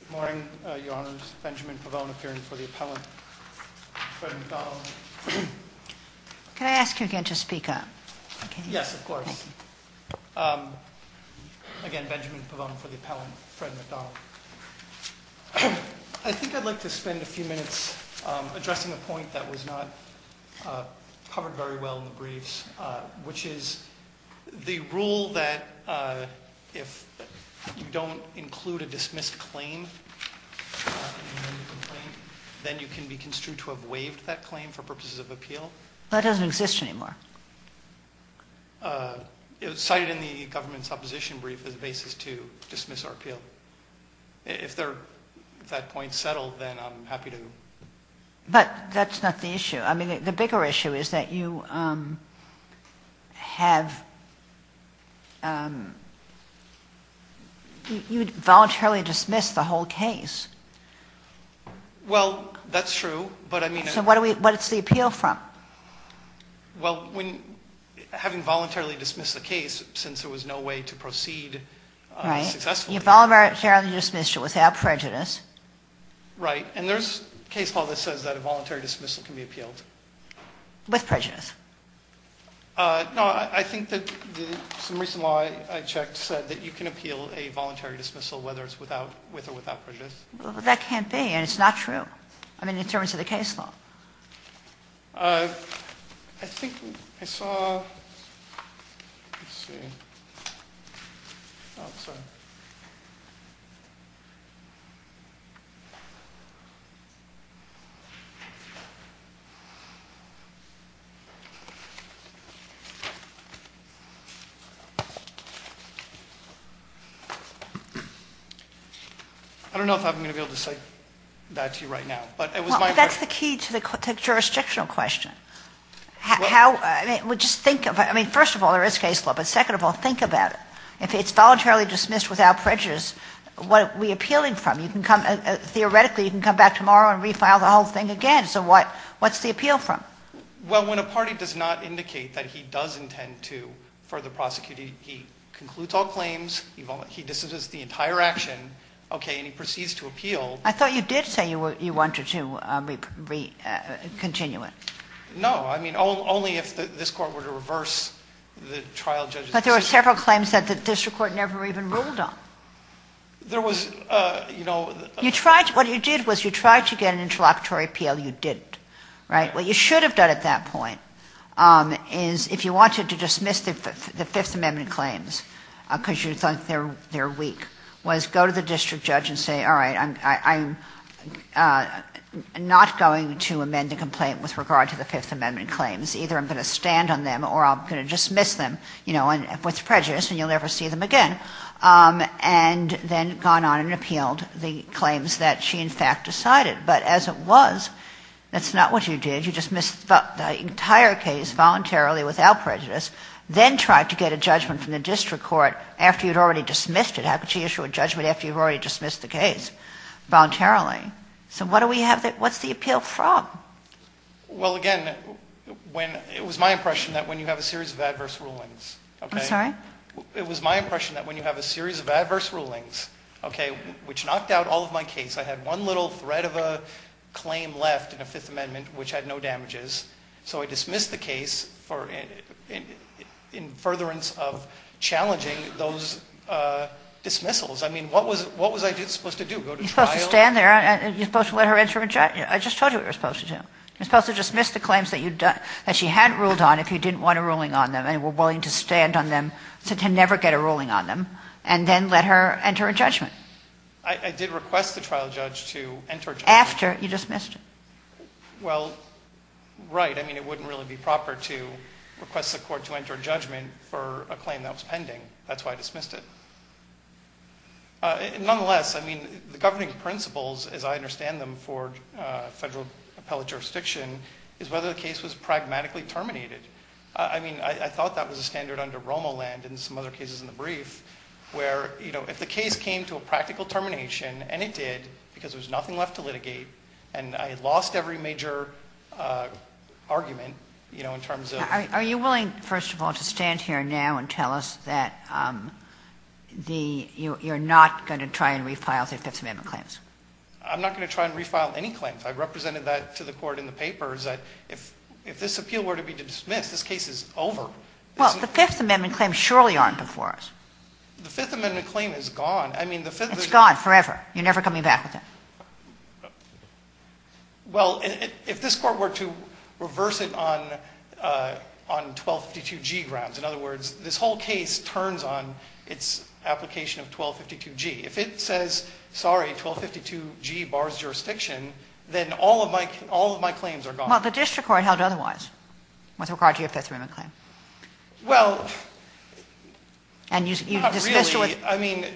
Good morning, Your Honors. Benjamin Pavone appearing before the appellant, Fred MacDonald. Can I ask you again to speak up? Yes, of course. Again, Benjamin Pavone before the appellant, Fred MacDonald. I think I'd like to spend a few minutes addressing a point that was not covered very well in the briefs, which is the rule that if you don't include a dismissed claim in the complaint, then you can be construed to have waived that claim for purposes of appeal. That doesn't exist anymore. It was cited in the government's opposition brief as a basis to dismiss our appeal. If that point is settled, then I'm happy to... But that's not the issue. I mean, the bigger issue is that you have... You voluntarily dismissed the whole case. Well, that's true, but I mean... So what's the appeal from? Well, having voluntarily dismissed the case since there was no way to proceed successfully... Right. You voluntarily dismissed it without prejudice. Right. And there's case law that says that a voluntary dismissal can be appealed. With prejudice. No, I think that some recent law I checked said that you can appeal a voluntary dismissal, whether it's with or without prejudice. Well, that can't be, and it's not true. I mean, in terms of the case law. I think I saw... I don't know if I'm going to be able to cite that to you right now. Well, that's the key to the jurisdictional question. I mean, first of all, there is case law, but second of all, think about it. If it's voluntarily dismissed without prejudice, what are we appealing from? Theoretically, you can come back tomorrow and refile the whole thing again. So what's the appeal from? Well, when a party does not indicate that he does intend to further prosecute, he concludes all claims, he dismisses the entire action, and he proceeds to appeal... I thought you did say you wanted to continue it. No, I mean, only if this Court were to reverse the trial judge's... But there were several claims that the district court never even ruled on. There was, you know... What you did was you tried to get an interlocutory appeal. You didn't. What you should have done at that point is, if you wanted to dismiss the Fifth Amendment claims because you thought they were weak, was go to the district judge and say, all right, I'm not going to amend the complaint with regard to the Fifth Amendment claims. Either I'm going to stand on them or I'm going to dismiss them, you know, with prejudice, and you'll never see them again, and then gone on and appealed the claims that she, in fact, decided. But as it was, that's not what you did. You dismissed the entire case voluntarily without prejudice, then tried to get a judgment from the district court after you had already dismissed it. How could you issue a judgment after you've already dismissed the case voluntarily? So what's the appeal from? Well, again, it was my impression that when you have a series of adverse rulings... I'm sorry? It was my impression that when you have a series of adverse rulings, okay, which knocked out all of my case, I had one little thread of a claim left in the Fifth Amendment which had no damages, so I dismissed the case in furtherance of challenging those dismissals. I mean, what was I supposed to do? Go to trial? You're supposed to stand there and you're supposed to let her enter a judgment. I just told you what you were supposed to do. You're supposed to dismiss the claims that she hadn't ruled on if you didn't want a ruling on them and were willing to stand on them to never get a ruling on them, and then let her enter a judgment. I did request the trial judge to enter a judgment. After you dismissed it. Well, right. I mean, it wouldn't really be proper to request the court to enter a judgment for a claim that was pending. That's why I dismissed it. Nonetheless, I mean, the governing principles, as I understand them for federal appellate jurisdiction, is whether the case was pragmatically terminated. I mean, I thought that was a standard under Romoland and some other cases in the brief where, you know, if the case came to a practical termination, and it did because there was nothing left to litigate, and I lost every major argument, you know, in terms of... Are you willing, first of all, to stand here now and tell us that you're not going to try and refile the Fifth Amendment claims? I'm not going to try and refile any claims. I represented that to the Court in the papers. If this appeal were to be dismissed, this case is over. Well, the Fifth Amendment claims surely aren't before us. The Fifth Amendment claim is gone. I mean, the Fifth Amendment... It's gone forever. You're never coming back with it. Well, if this Court were to reverse it on 1252G grounds, in other words, this whole case turns on its application of 1252G. If it says, sorry, 1252G bars jurisdiction, then all of my claims are gone. Well, the district court held otherwise with regard to your Fifth Amendment claim. Well... And you dismissed it with... I mean,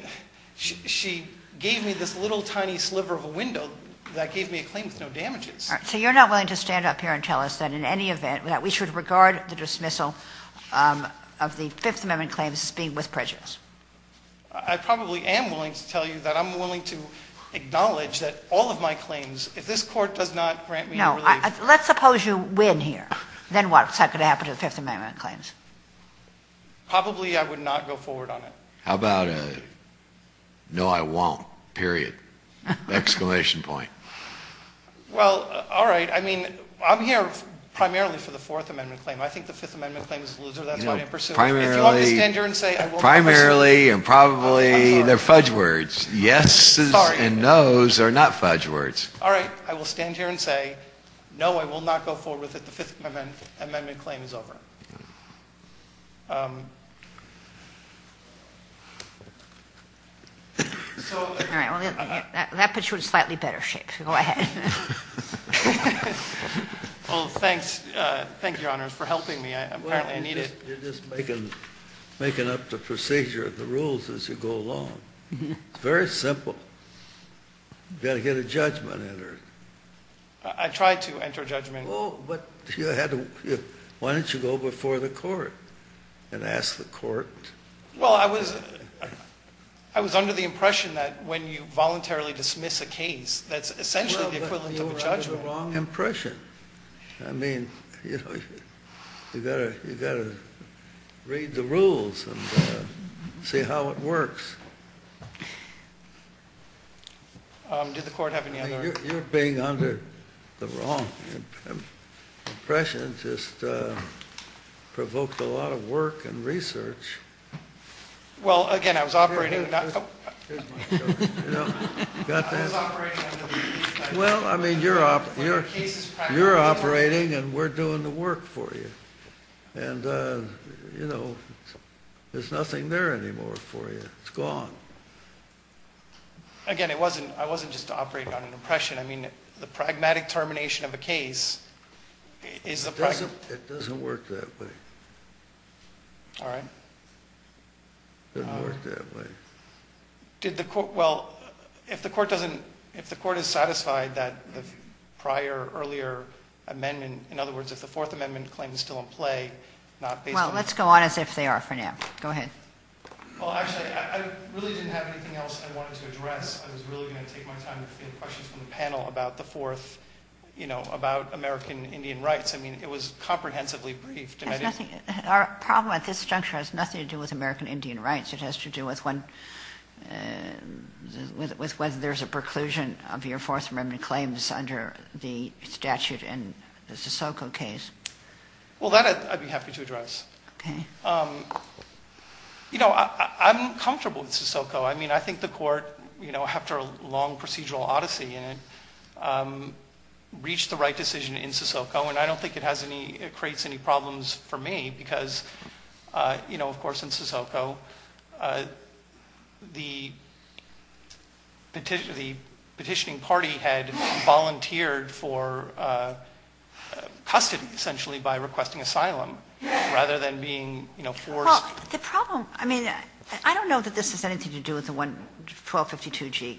she gave me this little tiny sliver of a window that gave me a claim with no damages. All right. So you're not willing to stand up here and tell us that in any event that we should regard the dismissal of the Fifth Amendment claims as being with prejudice? I probably am willing to tell you that I'm willing to acknowledge that all of my claims, if this Court does not grant me relief... No. Let's suppose you win here. Then what? Is that going to happen to the Fifth Amendment claims? Probably I would not go forward on it. How about a no, I won't? Period. Exclamation point. Well, all right. I mean, I'm here primarily for the Fourth Amendment claim. I think the Fifth Amendment claim is a loser. That's why I didn't pursue it. Primarily... If you want me to stand here and say... Primarily and probably they're fudge words. Yeses and nos are not fudge words. All right. I will stand here and say, no, I will not go forward with it. The Fifth Amendment claim is over. So... All right. That puts you in slightly better shape. Go ahead. Well, thanks. Thank you, Your Honors, for helping me. Apparently I need it. You're just making up the procedure of the rules as you go along. It's very simple. You've got to get a judgment entered. Oh, but you had to... Why don't you go over there? Go before the court and ask the court. Well, I was under the impression that when you voluntarily dismiss a case, that's essentially the equivalent of a judgment. You were under the wrong impression. I mean, you've got to read the rules and see how it works. Did the court have any other... You're being under the wrong impression. It just provoked a lot of work and research. Well, again, I was operating... Well, I mean, you're operating and we're doing the work for you. And, you know, there's nothing there anymore for you. It's gone. Again, I wasn't just operating on an impression. I mean, the pragmatic termination of a case is the... It doesn't work that way. All right. It doesn't work that way. Did the court... Well, if the court doesn't... If the court is satisfied that the prior earlier amendment... In other words, if the Fourth Amendment claim is still in play... Well, let's go on as if they are for now. Go ahead. Well, actually, I really didn't have anything else I wanted to address. I was really going to take my time to field questions from the panel about the Fourth, you know, about American Indian rights. I mean, it was comprehensively brief. Our problem at this juncture has nothing to do with American Indian rights. It has to do with whether there's a preclusion of your Fourth Amendment claims under the statute in the Sissoko case. Well, that I'd be happy to address. You know, I'm comfortable with Sissoko. I mean, I think the court, you know, after a long procedural odyssey in it, reached the right decision in Sissoko. And I don't think it has any... It creates any problems for me because, you know, of course, in Sissoko, the petitioning party had volunteered for custody, essentially, by requesting asylum. Rather than being, you know, forced... Well, the problem... I mean, I don't know that this has anything to do with the 1252G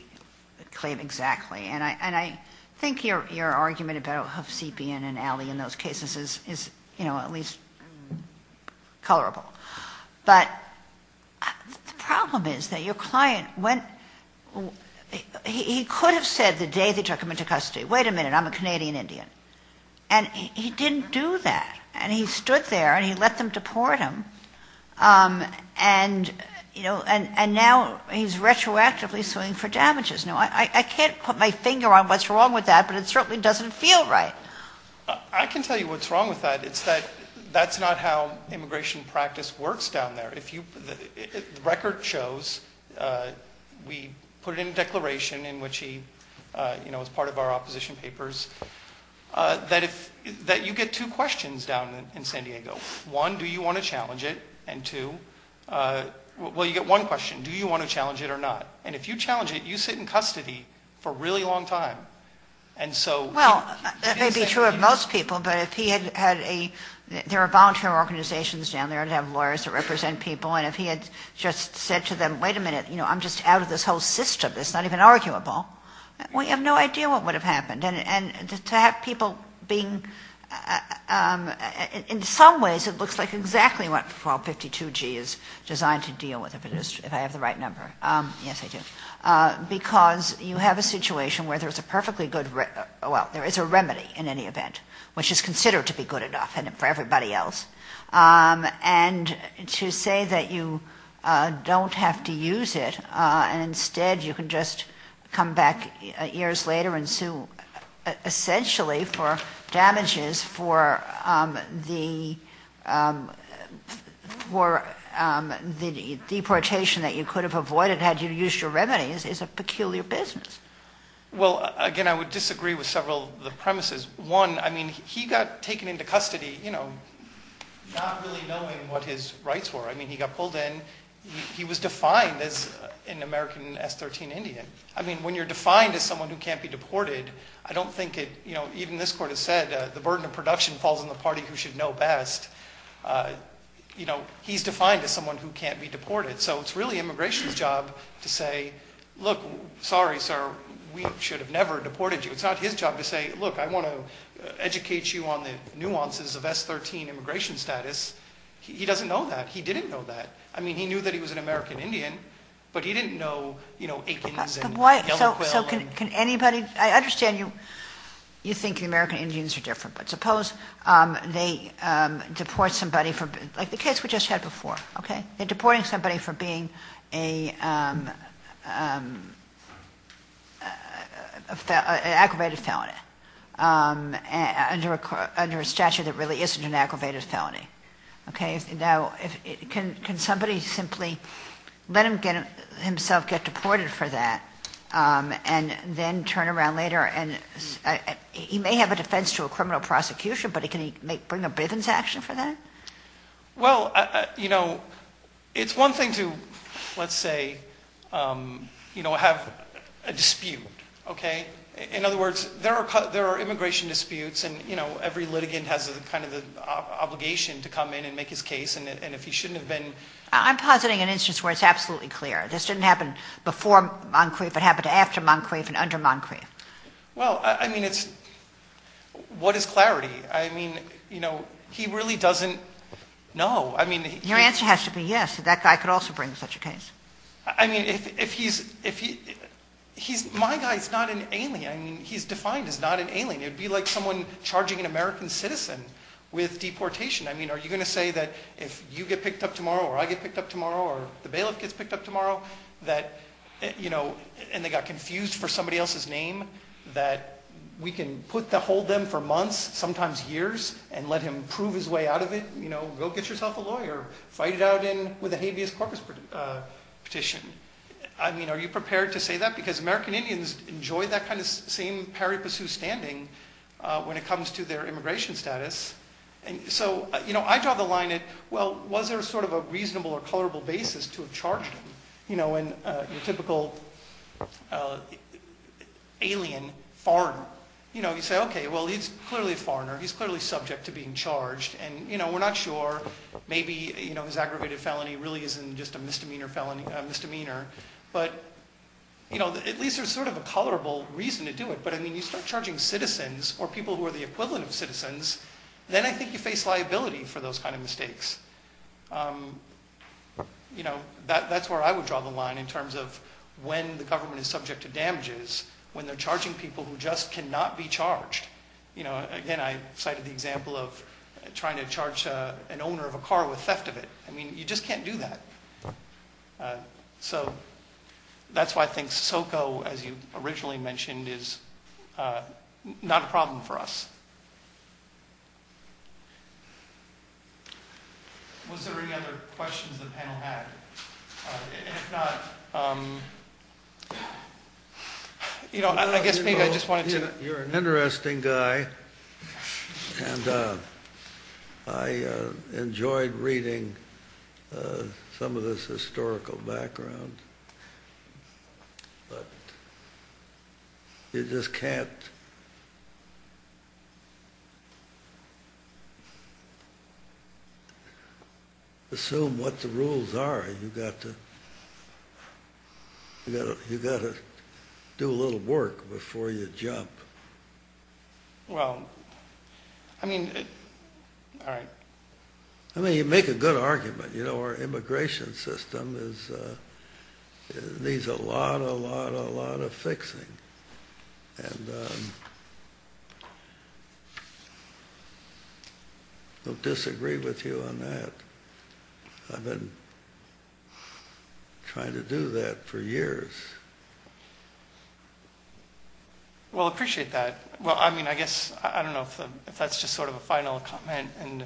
claim exactly. And I think your argument about Hovsepian and Alley in those cases is, you know, at least colorable. But the problem is that your client went... He could have said the day they took him into custody, wait a minute, I'm a Canadian Indian. And he didn't do that. And he stood there and he let them deport him. And, you know, and now he's retroactively suing for damages. Now, I can't put my finger on what's wrong with that, but it certainly doesn't feel right. I can tell you what's wrong with that. It's that that's not how immigration practice works down there. The record shows, we put in a declaration in which he, you know, was part of our opposition papers, that you get two questions down in San Diego. One, do you want to challenge it? And two, well, you get one question, do you want to challenge it or not? And if you challenge it, you sit in custody for a really long time. And so... Well, that may be true of most people. But if he had had a... There are volunteer organizations down there that have lawyers that represent people. And if he had just said to them, wait a minute, you know, I'm just out of this whole system, it's not even arguable, well, you have no idea what would have happened. And to have people being... In some ways, it looks like exactly what 1252G is designed to deal with, if I have the right number. Yes, I do. Because you have a situation where there's a perfectly good... Well, there is a remedy in any event, which is considered to be good enough for everybody else. And to say that you don't have to use it and instead you can just come back years later and sue essentially for damages for the deportation that you could have avoided had you used your remedies is a peculiar business. Well, again, I would disagree with several of the premises. One, I mean, he got taken into custody, you know, not really knowing what his rights were. I mean, he got pulled in. He was defined as an American S-13 Indian. I mean, when you're defined as someone who can't be deported, I don't think it... You know, even this court has said the burden of production falls on the party who should know best. You know, he's defined as someone who can't be deported. So it's really immigration's job to say, look, sorry, sir, we should have never deported you. It's not his job to say, look, I want to educate you on the nuances of S-13 immigration status. He doesn't know that. He didn't know that. I mean, he knew that he was an American Indian, but he didn't know, you know, Aikens and... So can anybody... I understand you think the American Indians are different, but suppose they deport somebody from... Like the case we just had before, okay? They're deporting somebody for being an aggravated felony under a statute that really isn't an aggravated felony. Okay? Now, can somebody simply let himself get deported for that and then turn around later and... He may have a defense to a criminal prosecution, but can he bring a Bivens action for that? Well, you know, it's one thing to, let's say, you know, have a dispute, okay? In other words, there are immigration disputes and, you know, every litigant has kind of the obligation to come in and make his case. And if he shouldn't have been... I'm positing an instance where it's absolutely clear. This didn't happen before Moncrief. It happened after Moncrief and under Moncrief. Well, I mean, it's... What is clarity? I mean, you know, he really doesn't know. I mean... Your answer has to be yes. That guy could also bring such a case. I mean, if he's... My guy is not an alien. I mean, he's defined as not an alien. It would be like someone charging an American citizen with deportation. I mean, are you going to say that if you get picked up tomorrow or I get picked up tomorrow or the bailiff gets picked up tomorrow that, you know, and they got confused for somebody else's name, that we can put the hold them for months, sometimes years, and let him prove his way out of it? You know, go get yourself a lawyer. Fight it out with a habeas corpus petition. I mean, are you prepared to say that? Because American Indians enjoy that kind of same parry-pursue standing when it comes to their immigration status. And so, you know, I draw the line at, well, was there sort of a reasonable or colorable basis to have charged him? You know, when your typical alien, foreign, you know, you say, okay, well, he's clearly a foreigner. He's clearly subject to being charged. And, you know, we're not sure. Maybe, you know, his aggravated felony really isn't just a misdemeanor felony, a misdemeanor. But, you know, at least there's sort of a colorable reason to do it. But, I mean, you start charging citizens or people who are the equivalent of citizens, then I think you face liability for those kind of mistakes. You know, that's where I would draw the line in terms of when the government is subject to damages, when they're charging people who just cannot be charged. You know, again, I cited the example of trying to charge an owner of a car with theft of it. I mean, you just can't do that. So that's why I think SOCO, as you originally mentioned, is not a problem for us. Was there any other questions the panel had? If not, you know, I guess maybe I just wanted to. You're an interesting guy, and I enjoyed reading some of this historical background. But you just can't assume what the rules are. You've got to do a little work before you jump. Well, I mean, all right. I mean, you make a good argument. You know, our immigration system needs a lot, a lot, a lot of fixing. And I don't disagree with you on that. I've been trying to do that for years. Well, I appreciate that. Well, I mean, I guess I don't know if that's just sort of a final comment, and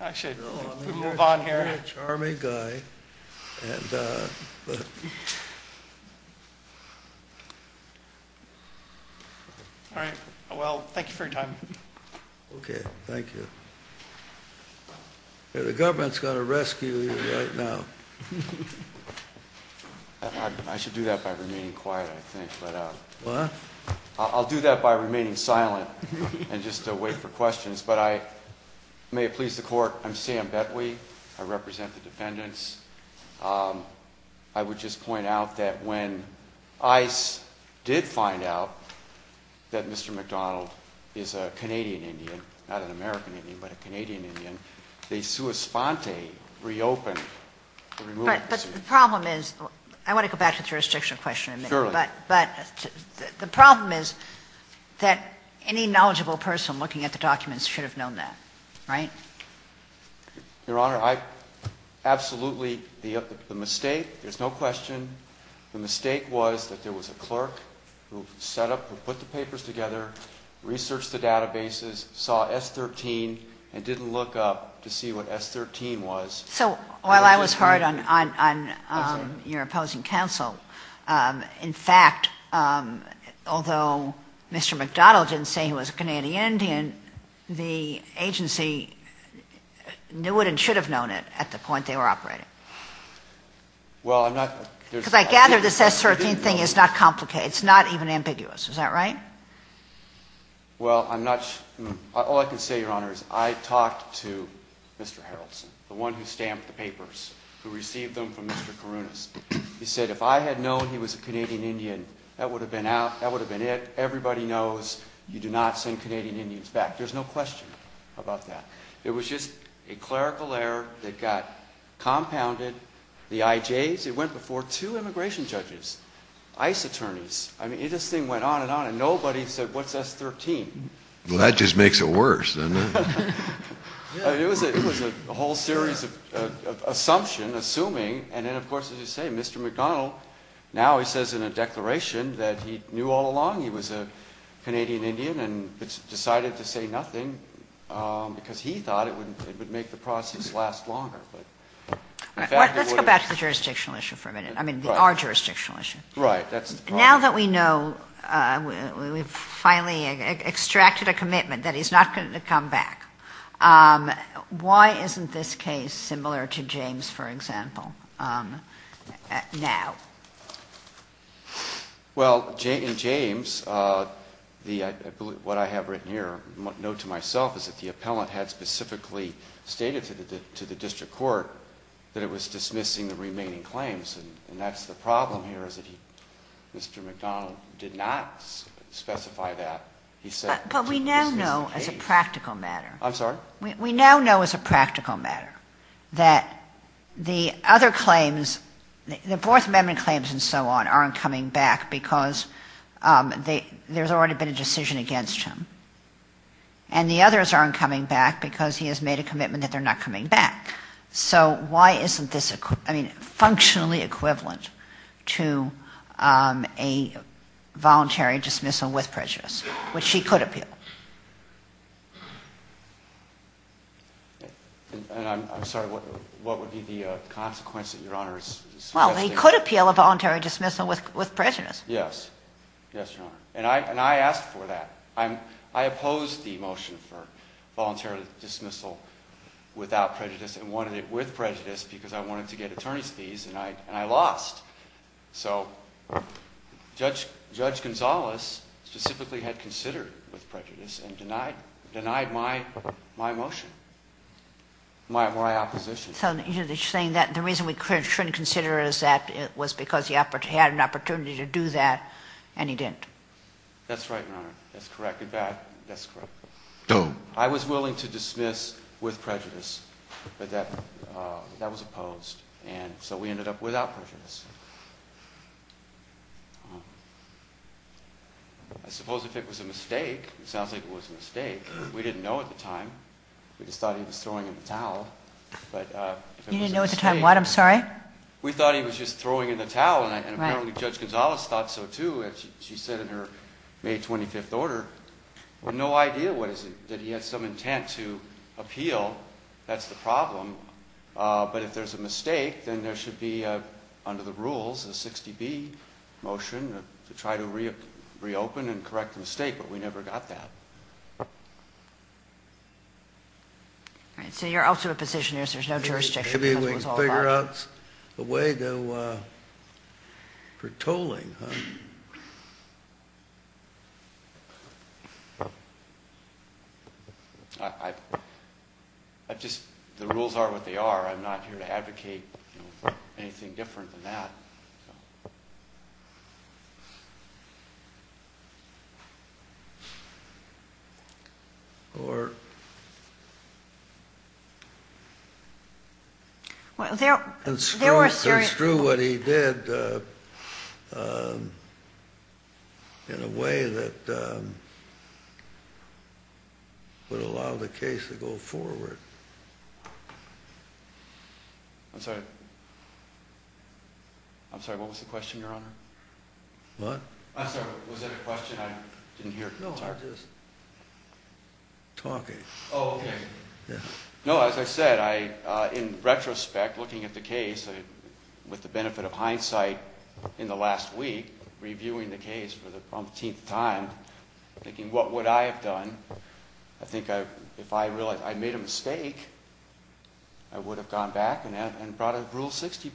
I should move on here. You're a charming guy. All right. Well, thank you for your time. Okay. Thank you. The government's going to rescue you right now. I should do that by remaining quiet, I think. I'll do that by remaining silent and just wait for questions. But may it please the Court, I'm Sam Betwee. I represent the defendants. I would just point out that when ICE did find out that Mr. McDonald is a Canadian Indian, not an American Indian, but a Canadian Indian, they sua sponte reopened the removal procedure. All right. But the problem is, I want to go back to the jurisdictional question in a minute. Sure. But the problem is that any knowledgeable person looking at the documents should have known that, right? Your Honor, I absolutely, the mistake, there's no question, the mistake was that there was a clerk who set up, who put the papers together, researched the databases, saw S13, and didn't look up to see what S13 was. So while I was hard on your opposing counsel, in fact, although Mr. McDonald didn't say he was a Canadian Indian, the agency knew it and should have known it at the point they were operating. Well, I'm not. Because I gather this S13 thing is not complicated. It's not even ambiguous. Is that right? Well, I'm not, all I can say, Your Honor, is I talked to Mr. Haraldson, the one who stamped the papers, who received them from Mr. Karunas. He said if I had known he was a Canadian Indian, that would have been out, that would have been it. Everybody knows you do not send Canadian Indians back. There's no question about that. It was just a clerical error that got compounded. The IJs, it went before two immigration judges, ICE attorneys. I mean, this thing went on and on, and nobody said what's S13. Well, that just makes it worse, doesn't it? It was a whole series of assumption, assuming, and then, of course, as you say, Mr. McDonald, now he says in a declaration that he knew all along he was a Canadian Indian and decided to say nothing because he thought it would make the process last longer. Let's go back to the jurisdictional issue for a minute, I mean, our jurisdictional issue. Right. Now that we know, we've finally extracted a commitment that he's not going to come back, why isn't this case similar to James, for example, now? Well, in James, what I have written here, note to myself, is that the appellant had specifically stated to the district court that it was dismissing the remaining claims, and that's the problem here is that Mr. McDonald did not specify that. But we now know as a practical matter. I'm sorry? We now know as a practical matter that the other claims, the Fourth Amendment claims and so on, aren't coming back because there's already been a decision against him, and the others aren't coming back because he has made a commitment that they're not coming back. So why isn't this functionally equivalent to a voluntary dismissal with prejudice, which he could appeal? And I'm sorry, what would be the consequence that Your Honor is suggesting? Well, he could appeal a voluntary dismissal with prejudice. Yes. Yes, Your Honor. And I asked for that. I opposed the motion for voluntary dismissal without prejudice and wanted it with prejudice because I wanted to get attorney's fees, and I lost. So Judge Gonzales specifically had considered with prejudice and denied my motion, my opposition. So you're saying that the reason we couldn't consider is that it was because he had an opportunity to do that and he didn't. That's right, Your Honor. That's correct. In fact, that's correct. I was willing to dismiss with prejudice, but that was opposed, and so we ended up without prejudice. I suppose if it was a mistake, it sounds like it was a mistake. We didn't know at the time. We just thought he was throwing in the towel. You didn't know at the time what? I'm sorry? We thought he was just throwing in the towel, and apparently Judge Gonzales thought so, too, as she said in her May 25th order. We have no idea that he had some intent to appeal. That's the problem. But if there's a mistake, then there should be, under the rules, a 60B motion to try to reopen and correct the mistake, but we never got that. So you're also a position where there's no jurisdiction. There should be ways to figure out a way for tolling, huh? The rules are what they are. I'm not here to advocate anything different than that. No. Or... Well, there were certain... ...construe what he did in a way that would allow the case to go forward. I'm sorry? I'm sorry, what was the question, Your Honor? What? I'm sorry, was there a question I didn't hear? No, I'm just talking. Oh, okay. Yeah. No, as I said, in retrospect, looking at the case, with the benefit of hindsight in the last week, reviewing the case for the umpteenth time, thinking what would I have done? I think if I realized I made a mistake, I would have gone back and brought a Rule 60B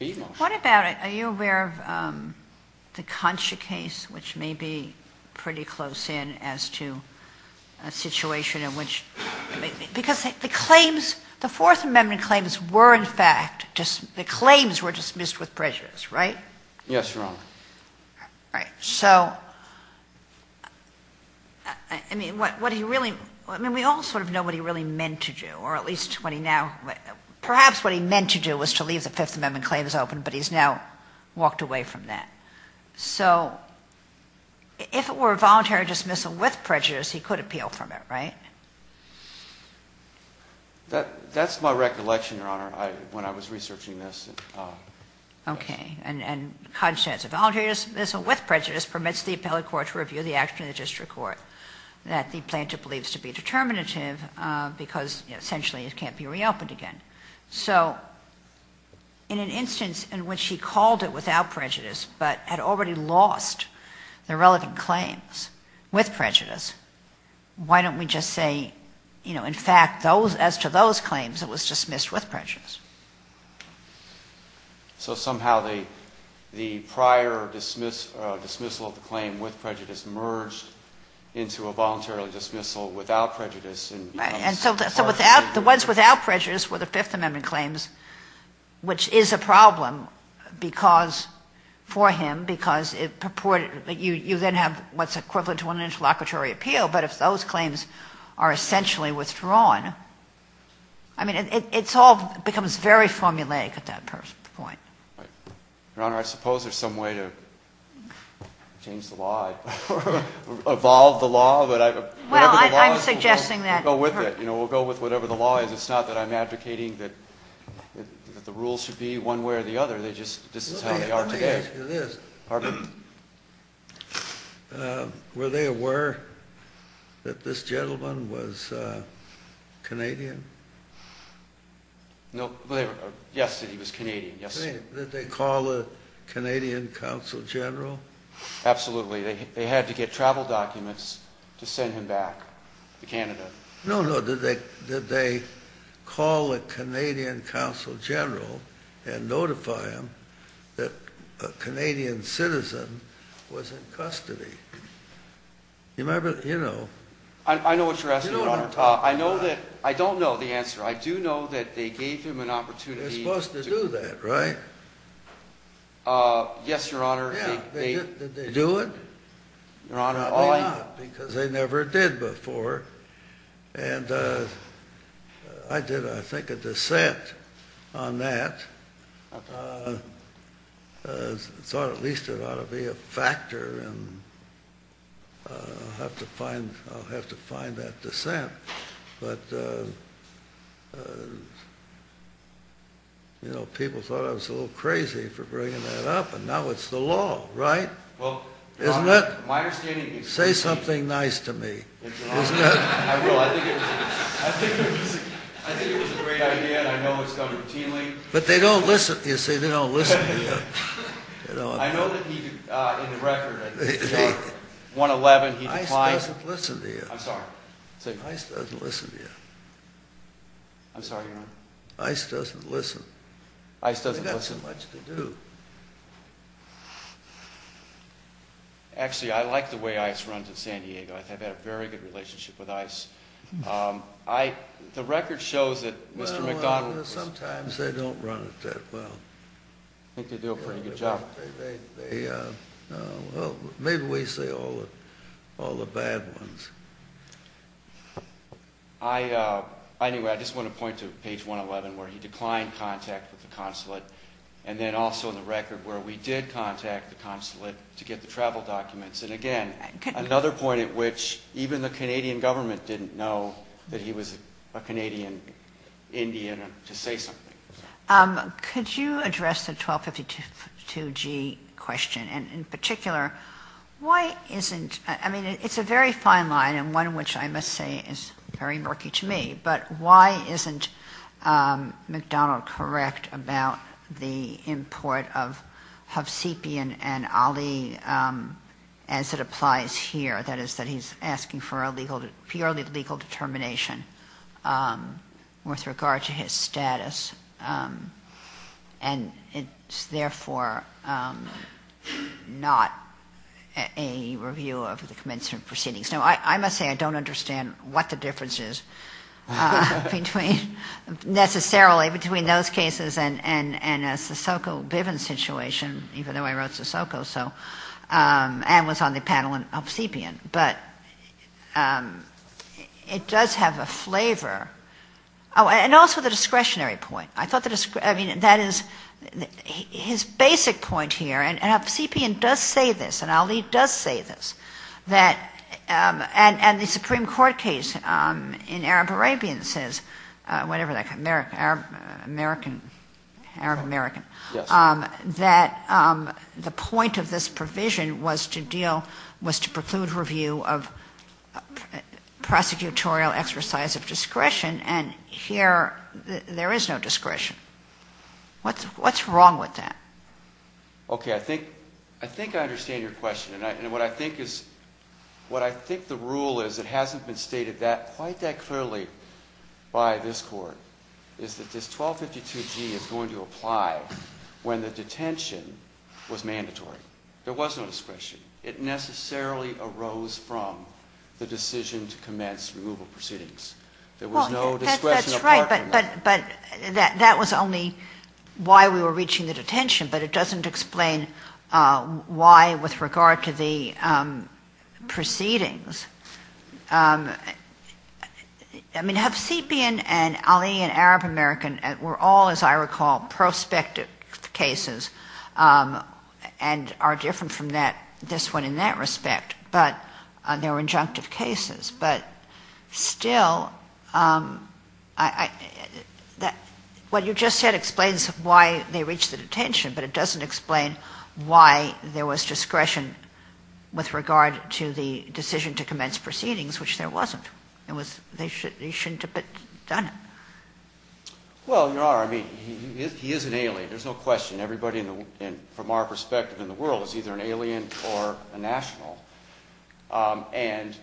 motion. What about, are you aware of the Concha case, which may be pretty close in as to a situation in which, because the claims, the Fourth Amendment claims were in fact, the claims were dismissed with prejudice, right? Yes, Your Honor. Right. So, I mean, what do you really, I mean, we all sort of know what he really meant to do, or at least what he now, perhaps what he meant to do was to leave the Fifth Amendment claims open, but he's now walked away from that. So, if it were a voluntary dismissal with prejudice, he could appeal from it, right? That's my recollection, Your Honor, when I was researching this. Okay. And Concha's voluntary dismissal with prejudice permits the appellate court to review the action of the district court that the plaintiff believes to be determinative because essentially it can't be reopened again. So, in an instance in which he called it without prejudice, but had already lost the relevant claims with prejudice, why don't we just say, you know, in fact, as to those claims, it was dismissed with prejudice? So, somehow the prior dismissal of the claim with prejudice merged into a voluntarily dismissal without prejudice. Right. And so the ones without prejudice were the Fifth Amendment claims, which is a problem because, for him, because you then have what's equivalent to an interlocutory appeal. But if those claims are essentially withdrawn, I mean, it's all becomes very formulaic at that point. Right. Your Honor, I suppose there's some way to change the law or evolve the law. Well, I'm suggesting that. We'll go with it. You know, we'll go with whatever the law is. It's not that I'm advocating that the rules should be one way or the other. They just, this is how they are today. Let me ask you this. Pardon me. Were they aware that this gentleman was Canadian? No. Yesterday he was Canadian. Yesterday. Did they call a Canadian consul general? Absolutely. They had to get travel documents to send him back to Canada. No, no. Did they call a Canadian consul general and notify him that a Canadian citizen was in custody? You know. I know what you're asking, Your Honor. I know that, I don't know the answer. I do know that they gave him an opportunity. They're supposed to do that, right? Yes, Your Honor. Yeah. Did they do it? Because they never did before. And I did, I think, a dissent on that. I thought at least it ought to be a factor and I'll have to find that dissent. But, you know, people thought I was a little crazy for bringing that up. And now it's the law, right? Isn't it? Say something nice to me. Isn't it? I think it was a great idea and I know it's done routinely. But they don't listen, you see, they don't listen to you. I know that he, in the record, 1-11, he declined. ICE doesn't listen to you. I'm sorry. ICE doesn't listen to you. I'm sorry, Your Honor. ICE doesn't listen. ICE doesn't listen. They've got so much to do. Actually, I like the way ICE runs in San Diego. I've had a very good relationship with ICE. The record shows that Mr. McDonald was... Well, sometimes they don't run it that well. I think they do a pretty good job. Well, maybe we say all the bad ones. Anyway, I just want to point to page 1-11 where he declined contact with the consulate and then also in the record where we did contact the consulate to get the travel documents. And, again, another point at which even the Canadian government didn't know that he was a Canadian Indian to say something. Could you address the 1252G question? And in particular, why isn't, I mean, it's a very fine line and one which I must say is very murky to me, but why isn't McDonald correct about the import of Hovsepian and Ali as it applies here? That is, that he's asking for a purely legal determination with regard to his status, and it's therefore not a review of the commencement proceedings. Now, I must say I don't understand what the difference is between necessarily, between those cases and a Sissoko Bivens situation, even though I wrote Sissoko, and was on the panel on Hovsepian. But it does have a flavor. Oh, and also the discretionary point. I thought the discretionary, I mean, that is his basic point here, and Hovsepian does say this, and Ali does say this, that, and the Supreme Court case in Arab-Arabian says, whatever that, American, Arab-American, that the point of this provision was to deal, was to preclude review of prosecutorial exercise of discretion, and here there is no discretion. What's wrong with that? Okay, I think I understand your question, and what I think is, what I think the rule is that hasn't been stated quite that clearly by this Court, is that this 1252G is going to apply when the detention was mandatory. There was no discretion. It necessarily arose from the decision to commence removal proceedings. There was no discretion apart from that. But that was only why we were reaching the detention, but it doesn't explain why with regard to the proceedings. I mean, Hovsepian and Ali and Arab-American were all, as I recall, prospective cases, and are different from this one in that respect, but they were injunctive cases. But still, what you just said explains why they reached the detention, but it doesn't explain why there was discretion with regard to the decision to commence proceedings, which there wasn't. They shouldn't have done it. Well, Your Honor, I mean, he is an alien. There's no question. Everybody from our perspective in the world is either an alien or a national. And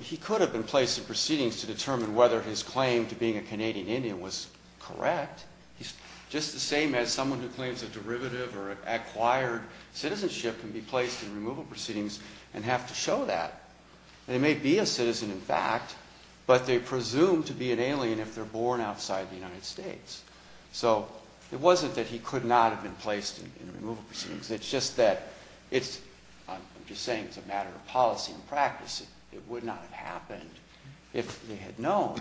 he could have been placed in proceedings to determine whether his claim to being a Canadian Indian was correct. He's just the same as someone who claims a derivative or acquired citizenship can be placed in removal proceedings and have to show that. They may be a citizen, in fact, but they presume to be an alien if they're born outside the United States. So it wasn't that he could not have been placed in removal proceedings. It's just that it's, I'm just saying it's a matter of policy and practice. It would not have happened if they had known,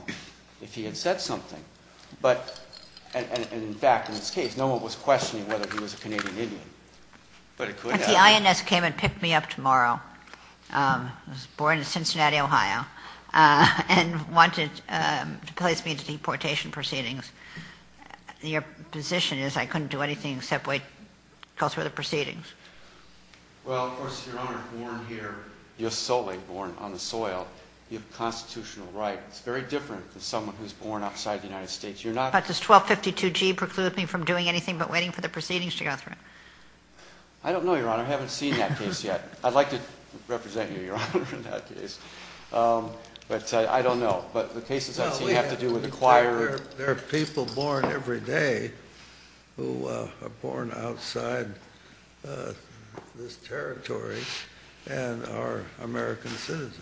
if he had said something. But, in fact, in this case, no one was questioning whether he was a Canadian Indian. But it could have. If the INS came and picked me up tomorrow, was born in Cincinnati, Ohio, and wanted to place me into deportation proceedings, your position is I couldn't do anything except wait, go through the proceedings. Well, of course, Your Honor, born here, you're solely born on the soil. You have a constitutional right. It's very different than someone who's born outside the United States. But does 1252G preclude me from doing anything but waiting for the proceedings to go through? I don't know, Your Honor. I haven't seen that case yet. I'd like to represent you, Your Honor, in that case. But I don't know. But the case is that you have to do with the choir. There are people born every day who are born outside this territory and are American citizens.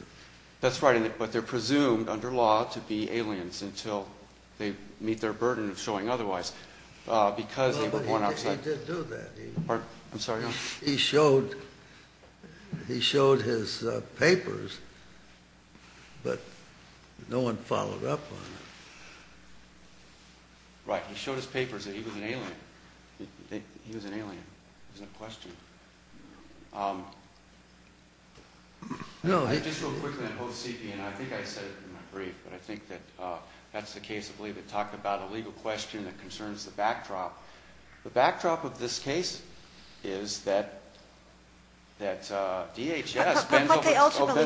That's right, but they're presumed under law to be aliens until they meet their burden of showing otherwise because they were born outside. No, but he did do that. I'm sorry, Your Honor? He showed his papers, but no one followed up on it. Right, he showed his papers that he was an alien. He was an alien. It was a question. Just real quickly, I think I said it in my brief, but I think that that's the case, I believe. It talked about a legal question that concerns the backdrop. The backdrop of this case is that DHS bends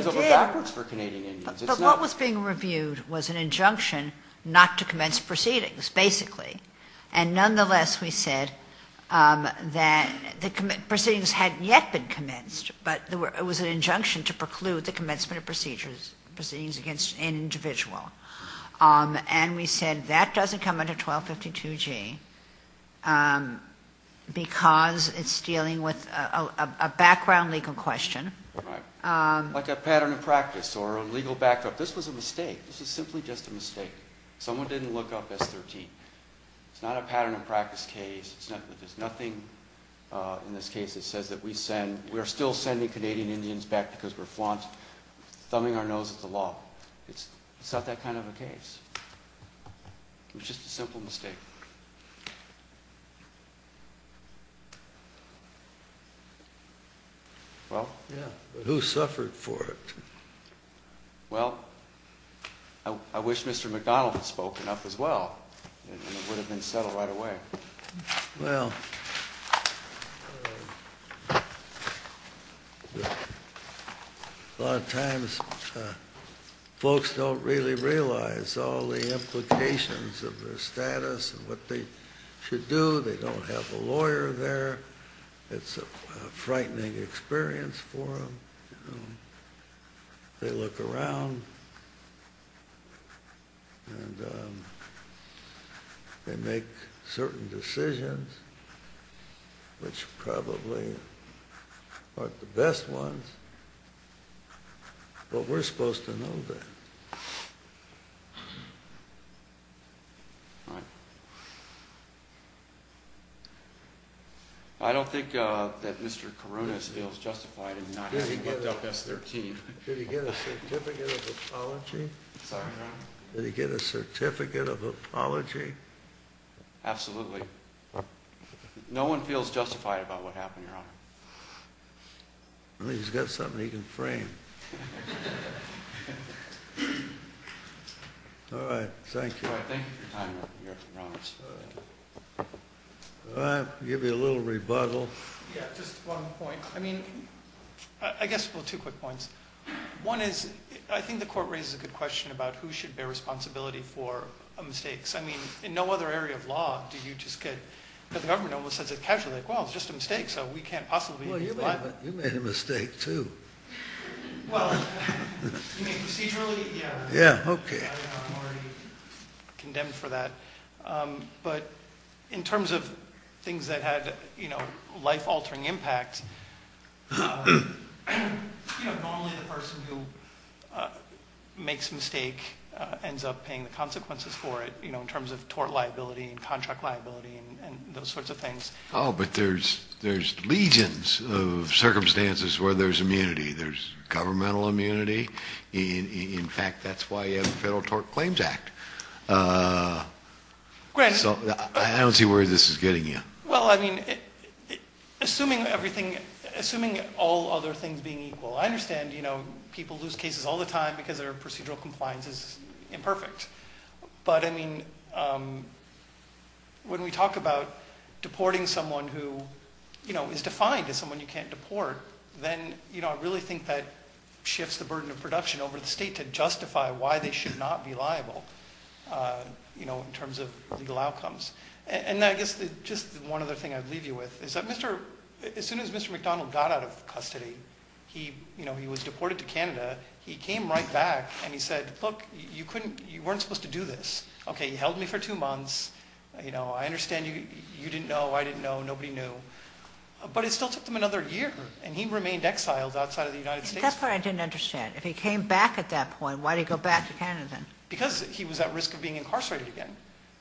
over backwards for Canadian Indians. But what was being reviewed was an injunction not to commence proceedings, basically. And nonetheless, we said that the proceedings hadn't yet been commenced, but it was an injunction to preclude the commencement of proceedings against an individual. And we said that doesn't come under 1252G because it's dealing with a background legal question. Like a pattern of practice or a legal backdrop. This was a mistake. This was simply just a mistake. Someone didn't look up S13. It's not a pattern of practice case. There's nothing in this case that says that we're still sending Canadian Indians back because we're flaunt, thumbing our nose at the law. It's not that kind of a case. It was just a simple mistake. Well. Yeah, but who suffered for it? Well, I wish Mr. McDonald had spoken up as well, and it would have been settled right away. Well. A lot of times folks don't really realize all the implications of their status and what they should do. They don't have a lawyer there. It's a frightening experience for them. They look around. And they make certain decisions, which probably aren't the best ones, but we're supposed to know that. Right. I don't think that Mr. Corona feels justified in not having looked up S13. Did he get a certificate of apology? Sorry, Your Honor. Did he get a certificate of apology? Absolutely. No one feels justified about what happened, Your Honor. Well, he's got something he can frame. All right, thank you. Thank you for your time, Your Honor. I'll give you a little rebuttal. Yeah, just one point. I mean, I guess, well, two quick points. One is, I think the court raises a good question about who should bear responsibility for mistakes. I mean, in no other area of law do you just get—the government almost says it casually, like, well, it's just a mistake, so we can't possibly— Well, you made a mistake, too. Well, you mean procedurally? Yeah. Yeah, okay. I'm already condemned for that. But in terms of things that had, you know, life-altering impact, you know, normally the person who makes a mistake ends up paying the consequences for it, you know, in terms of tort liability and contract liability and those sorts of things. Oh, but there's legions of circumstances where there's immunity. There's governmental immunity. In fact, that's why you have the Federal Tort Claims Act. So I don't see where this is getting you. Well, I mean, assuming everything—assuming all other things being equal, I understand, you know, people lose cases all the time because their procedural compliance is imperfect. But, I mean, when we talk about deporting someone who, you know, is defined as someone you can't deport, then, you know, I really think that shifts the burden of production over the state to justify why they should not be liable, you know, in terms of legal outcomes. And I guess just one other thing I'd leave you with is that Mr.—as soon as Mr. McDonald got out of custody, he, you know, he was deported to Canada. He came right back, and he said, look, you couldn't—you weren't supposed to do this. Okay, he held me for two months. You know, I understand you didn't know. I didn't know. Nobody knew. But it still took them another year, and he remained exiled outside of the United States. At that point, I didn't understand. If he came back at that point, why did he go back to Canada? Because he was at risk of being incarcerated again.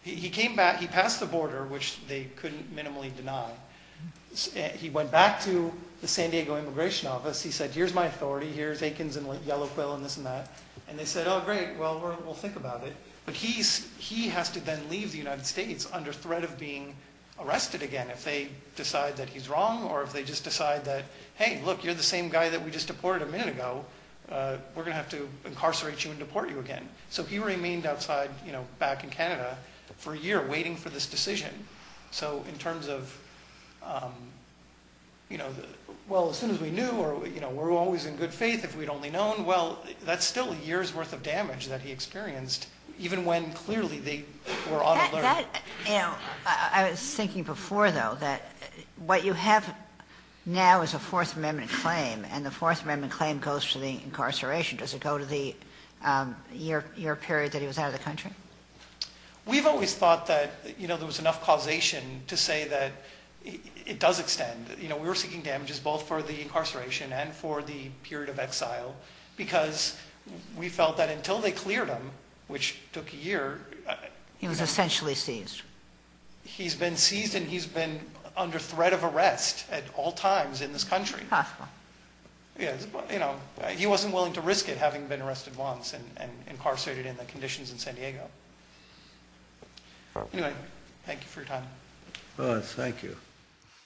He came back. He passed the border, which they couldn't minimally deny. He went back to the San Diego Immigration Office. He said, here's my authority. Here's Aikens and Yellow Quill and this and that. And they said, oh, great. Well, we'll think about it. But he has to then leave the United States under threat of being arrested again if they decide that he's wrong or if they just decide that, hey, look, you're the same guy that we just deported a minute ago. We're going to have to incarcerate you and deport you again. So he remained outside back in Canada for a year waiting for this decision. So in terms of, well, as soon as we knew or we're always in good faith if we'd only known, well, that's still a year's worth of damage that he experienced even when clearly they were on alert. I was thinking before, though, that what you have now is a Fourth Amendment claim, and the Fourth Amendment claim goes to the incarceration. Does it go to the year period that he was out of the country? We've always thought that there was enough causation to say that it does extend. We were seeking damages both for the incarceration and for the period of exile because we felt that until they cleared him, which took a year. He was essentially seized. He's been seized and he's been under threat of arrest at all times in this country. Possible. He wasn't willing to risk it having been arrested once and incarcerated in the conditions in San Diego. Anyway, thank you for your time. Thank you.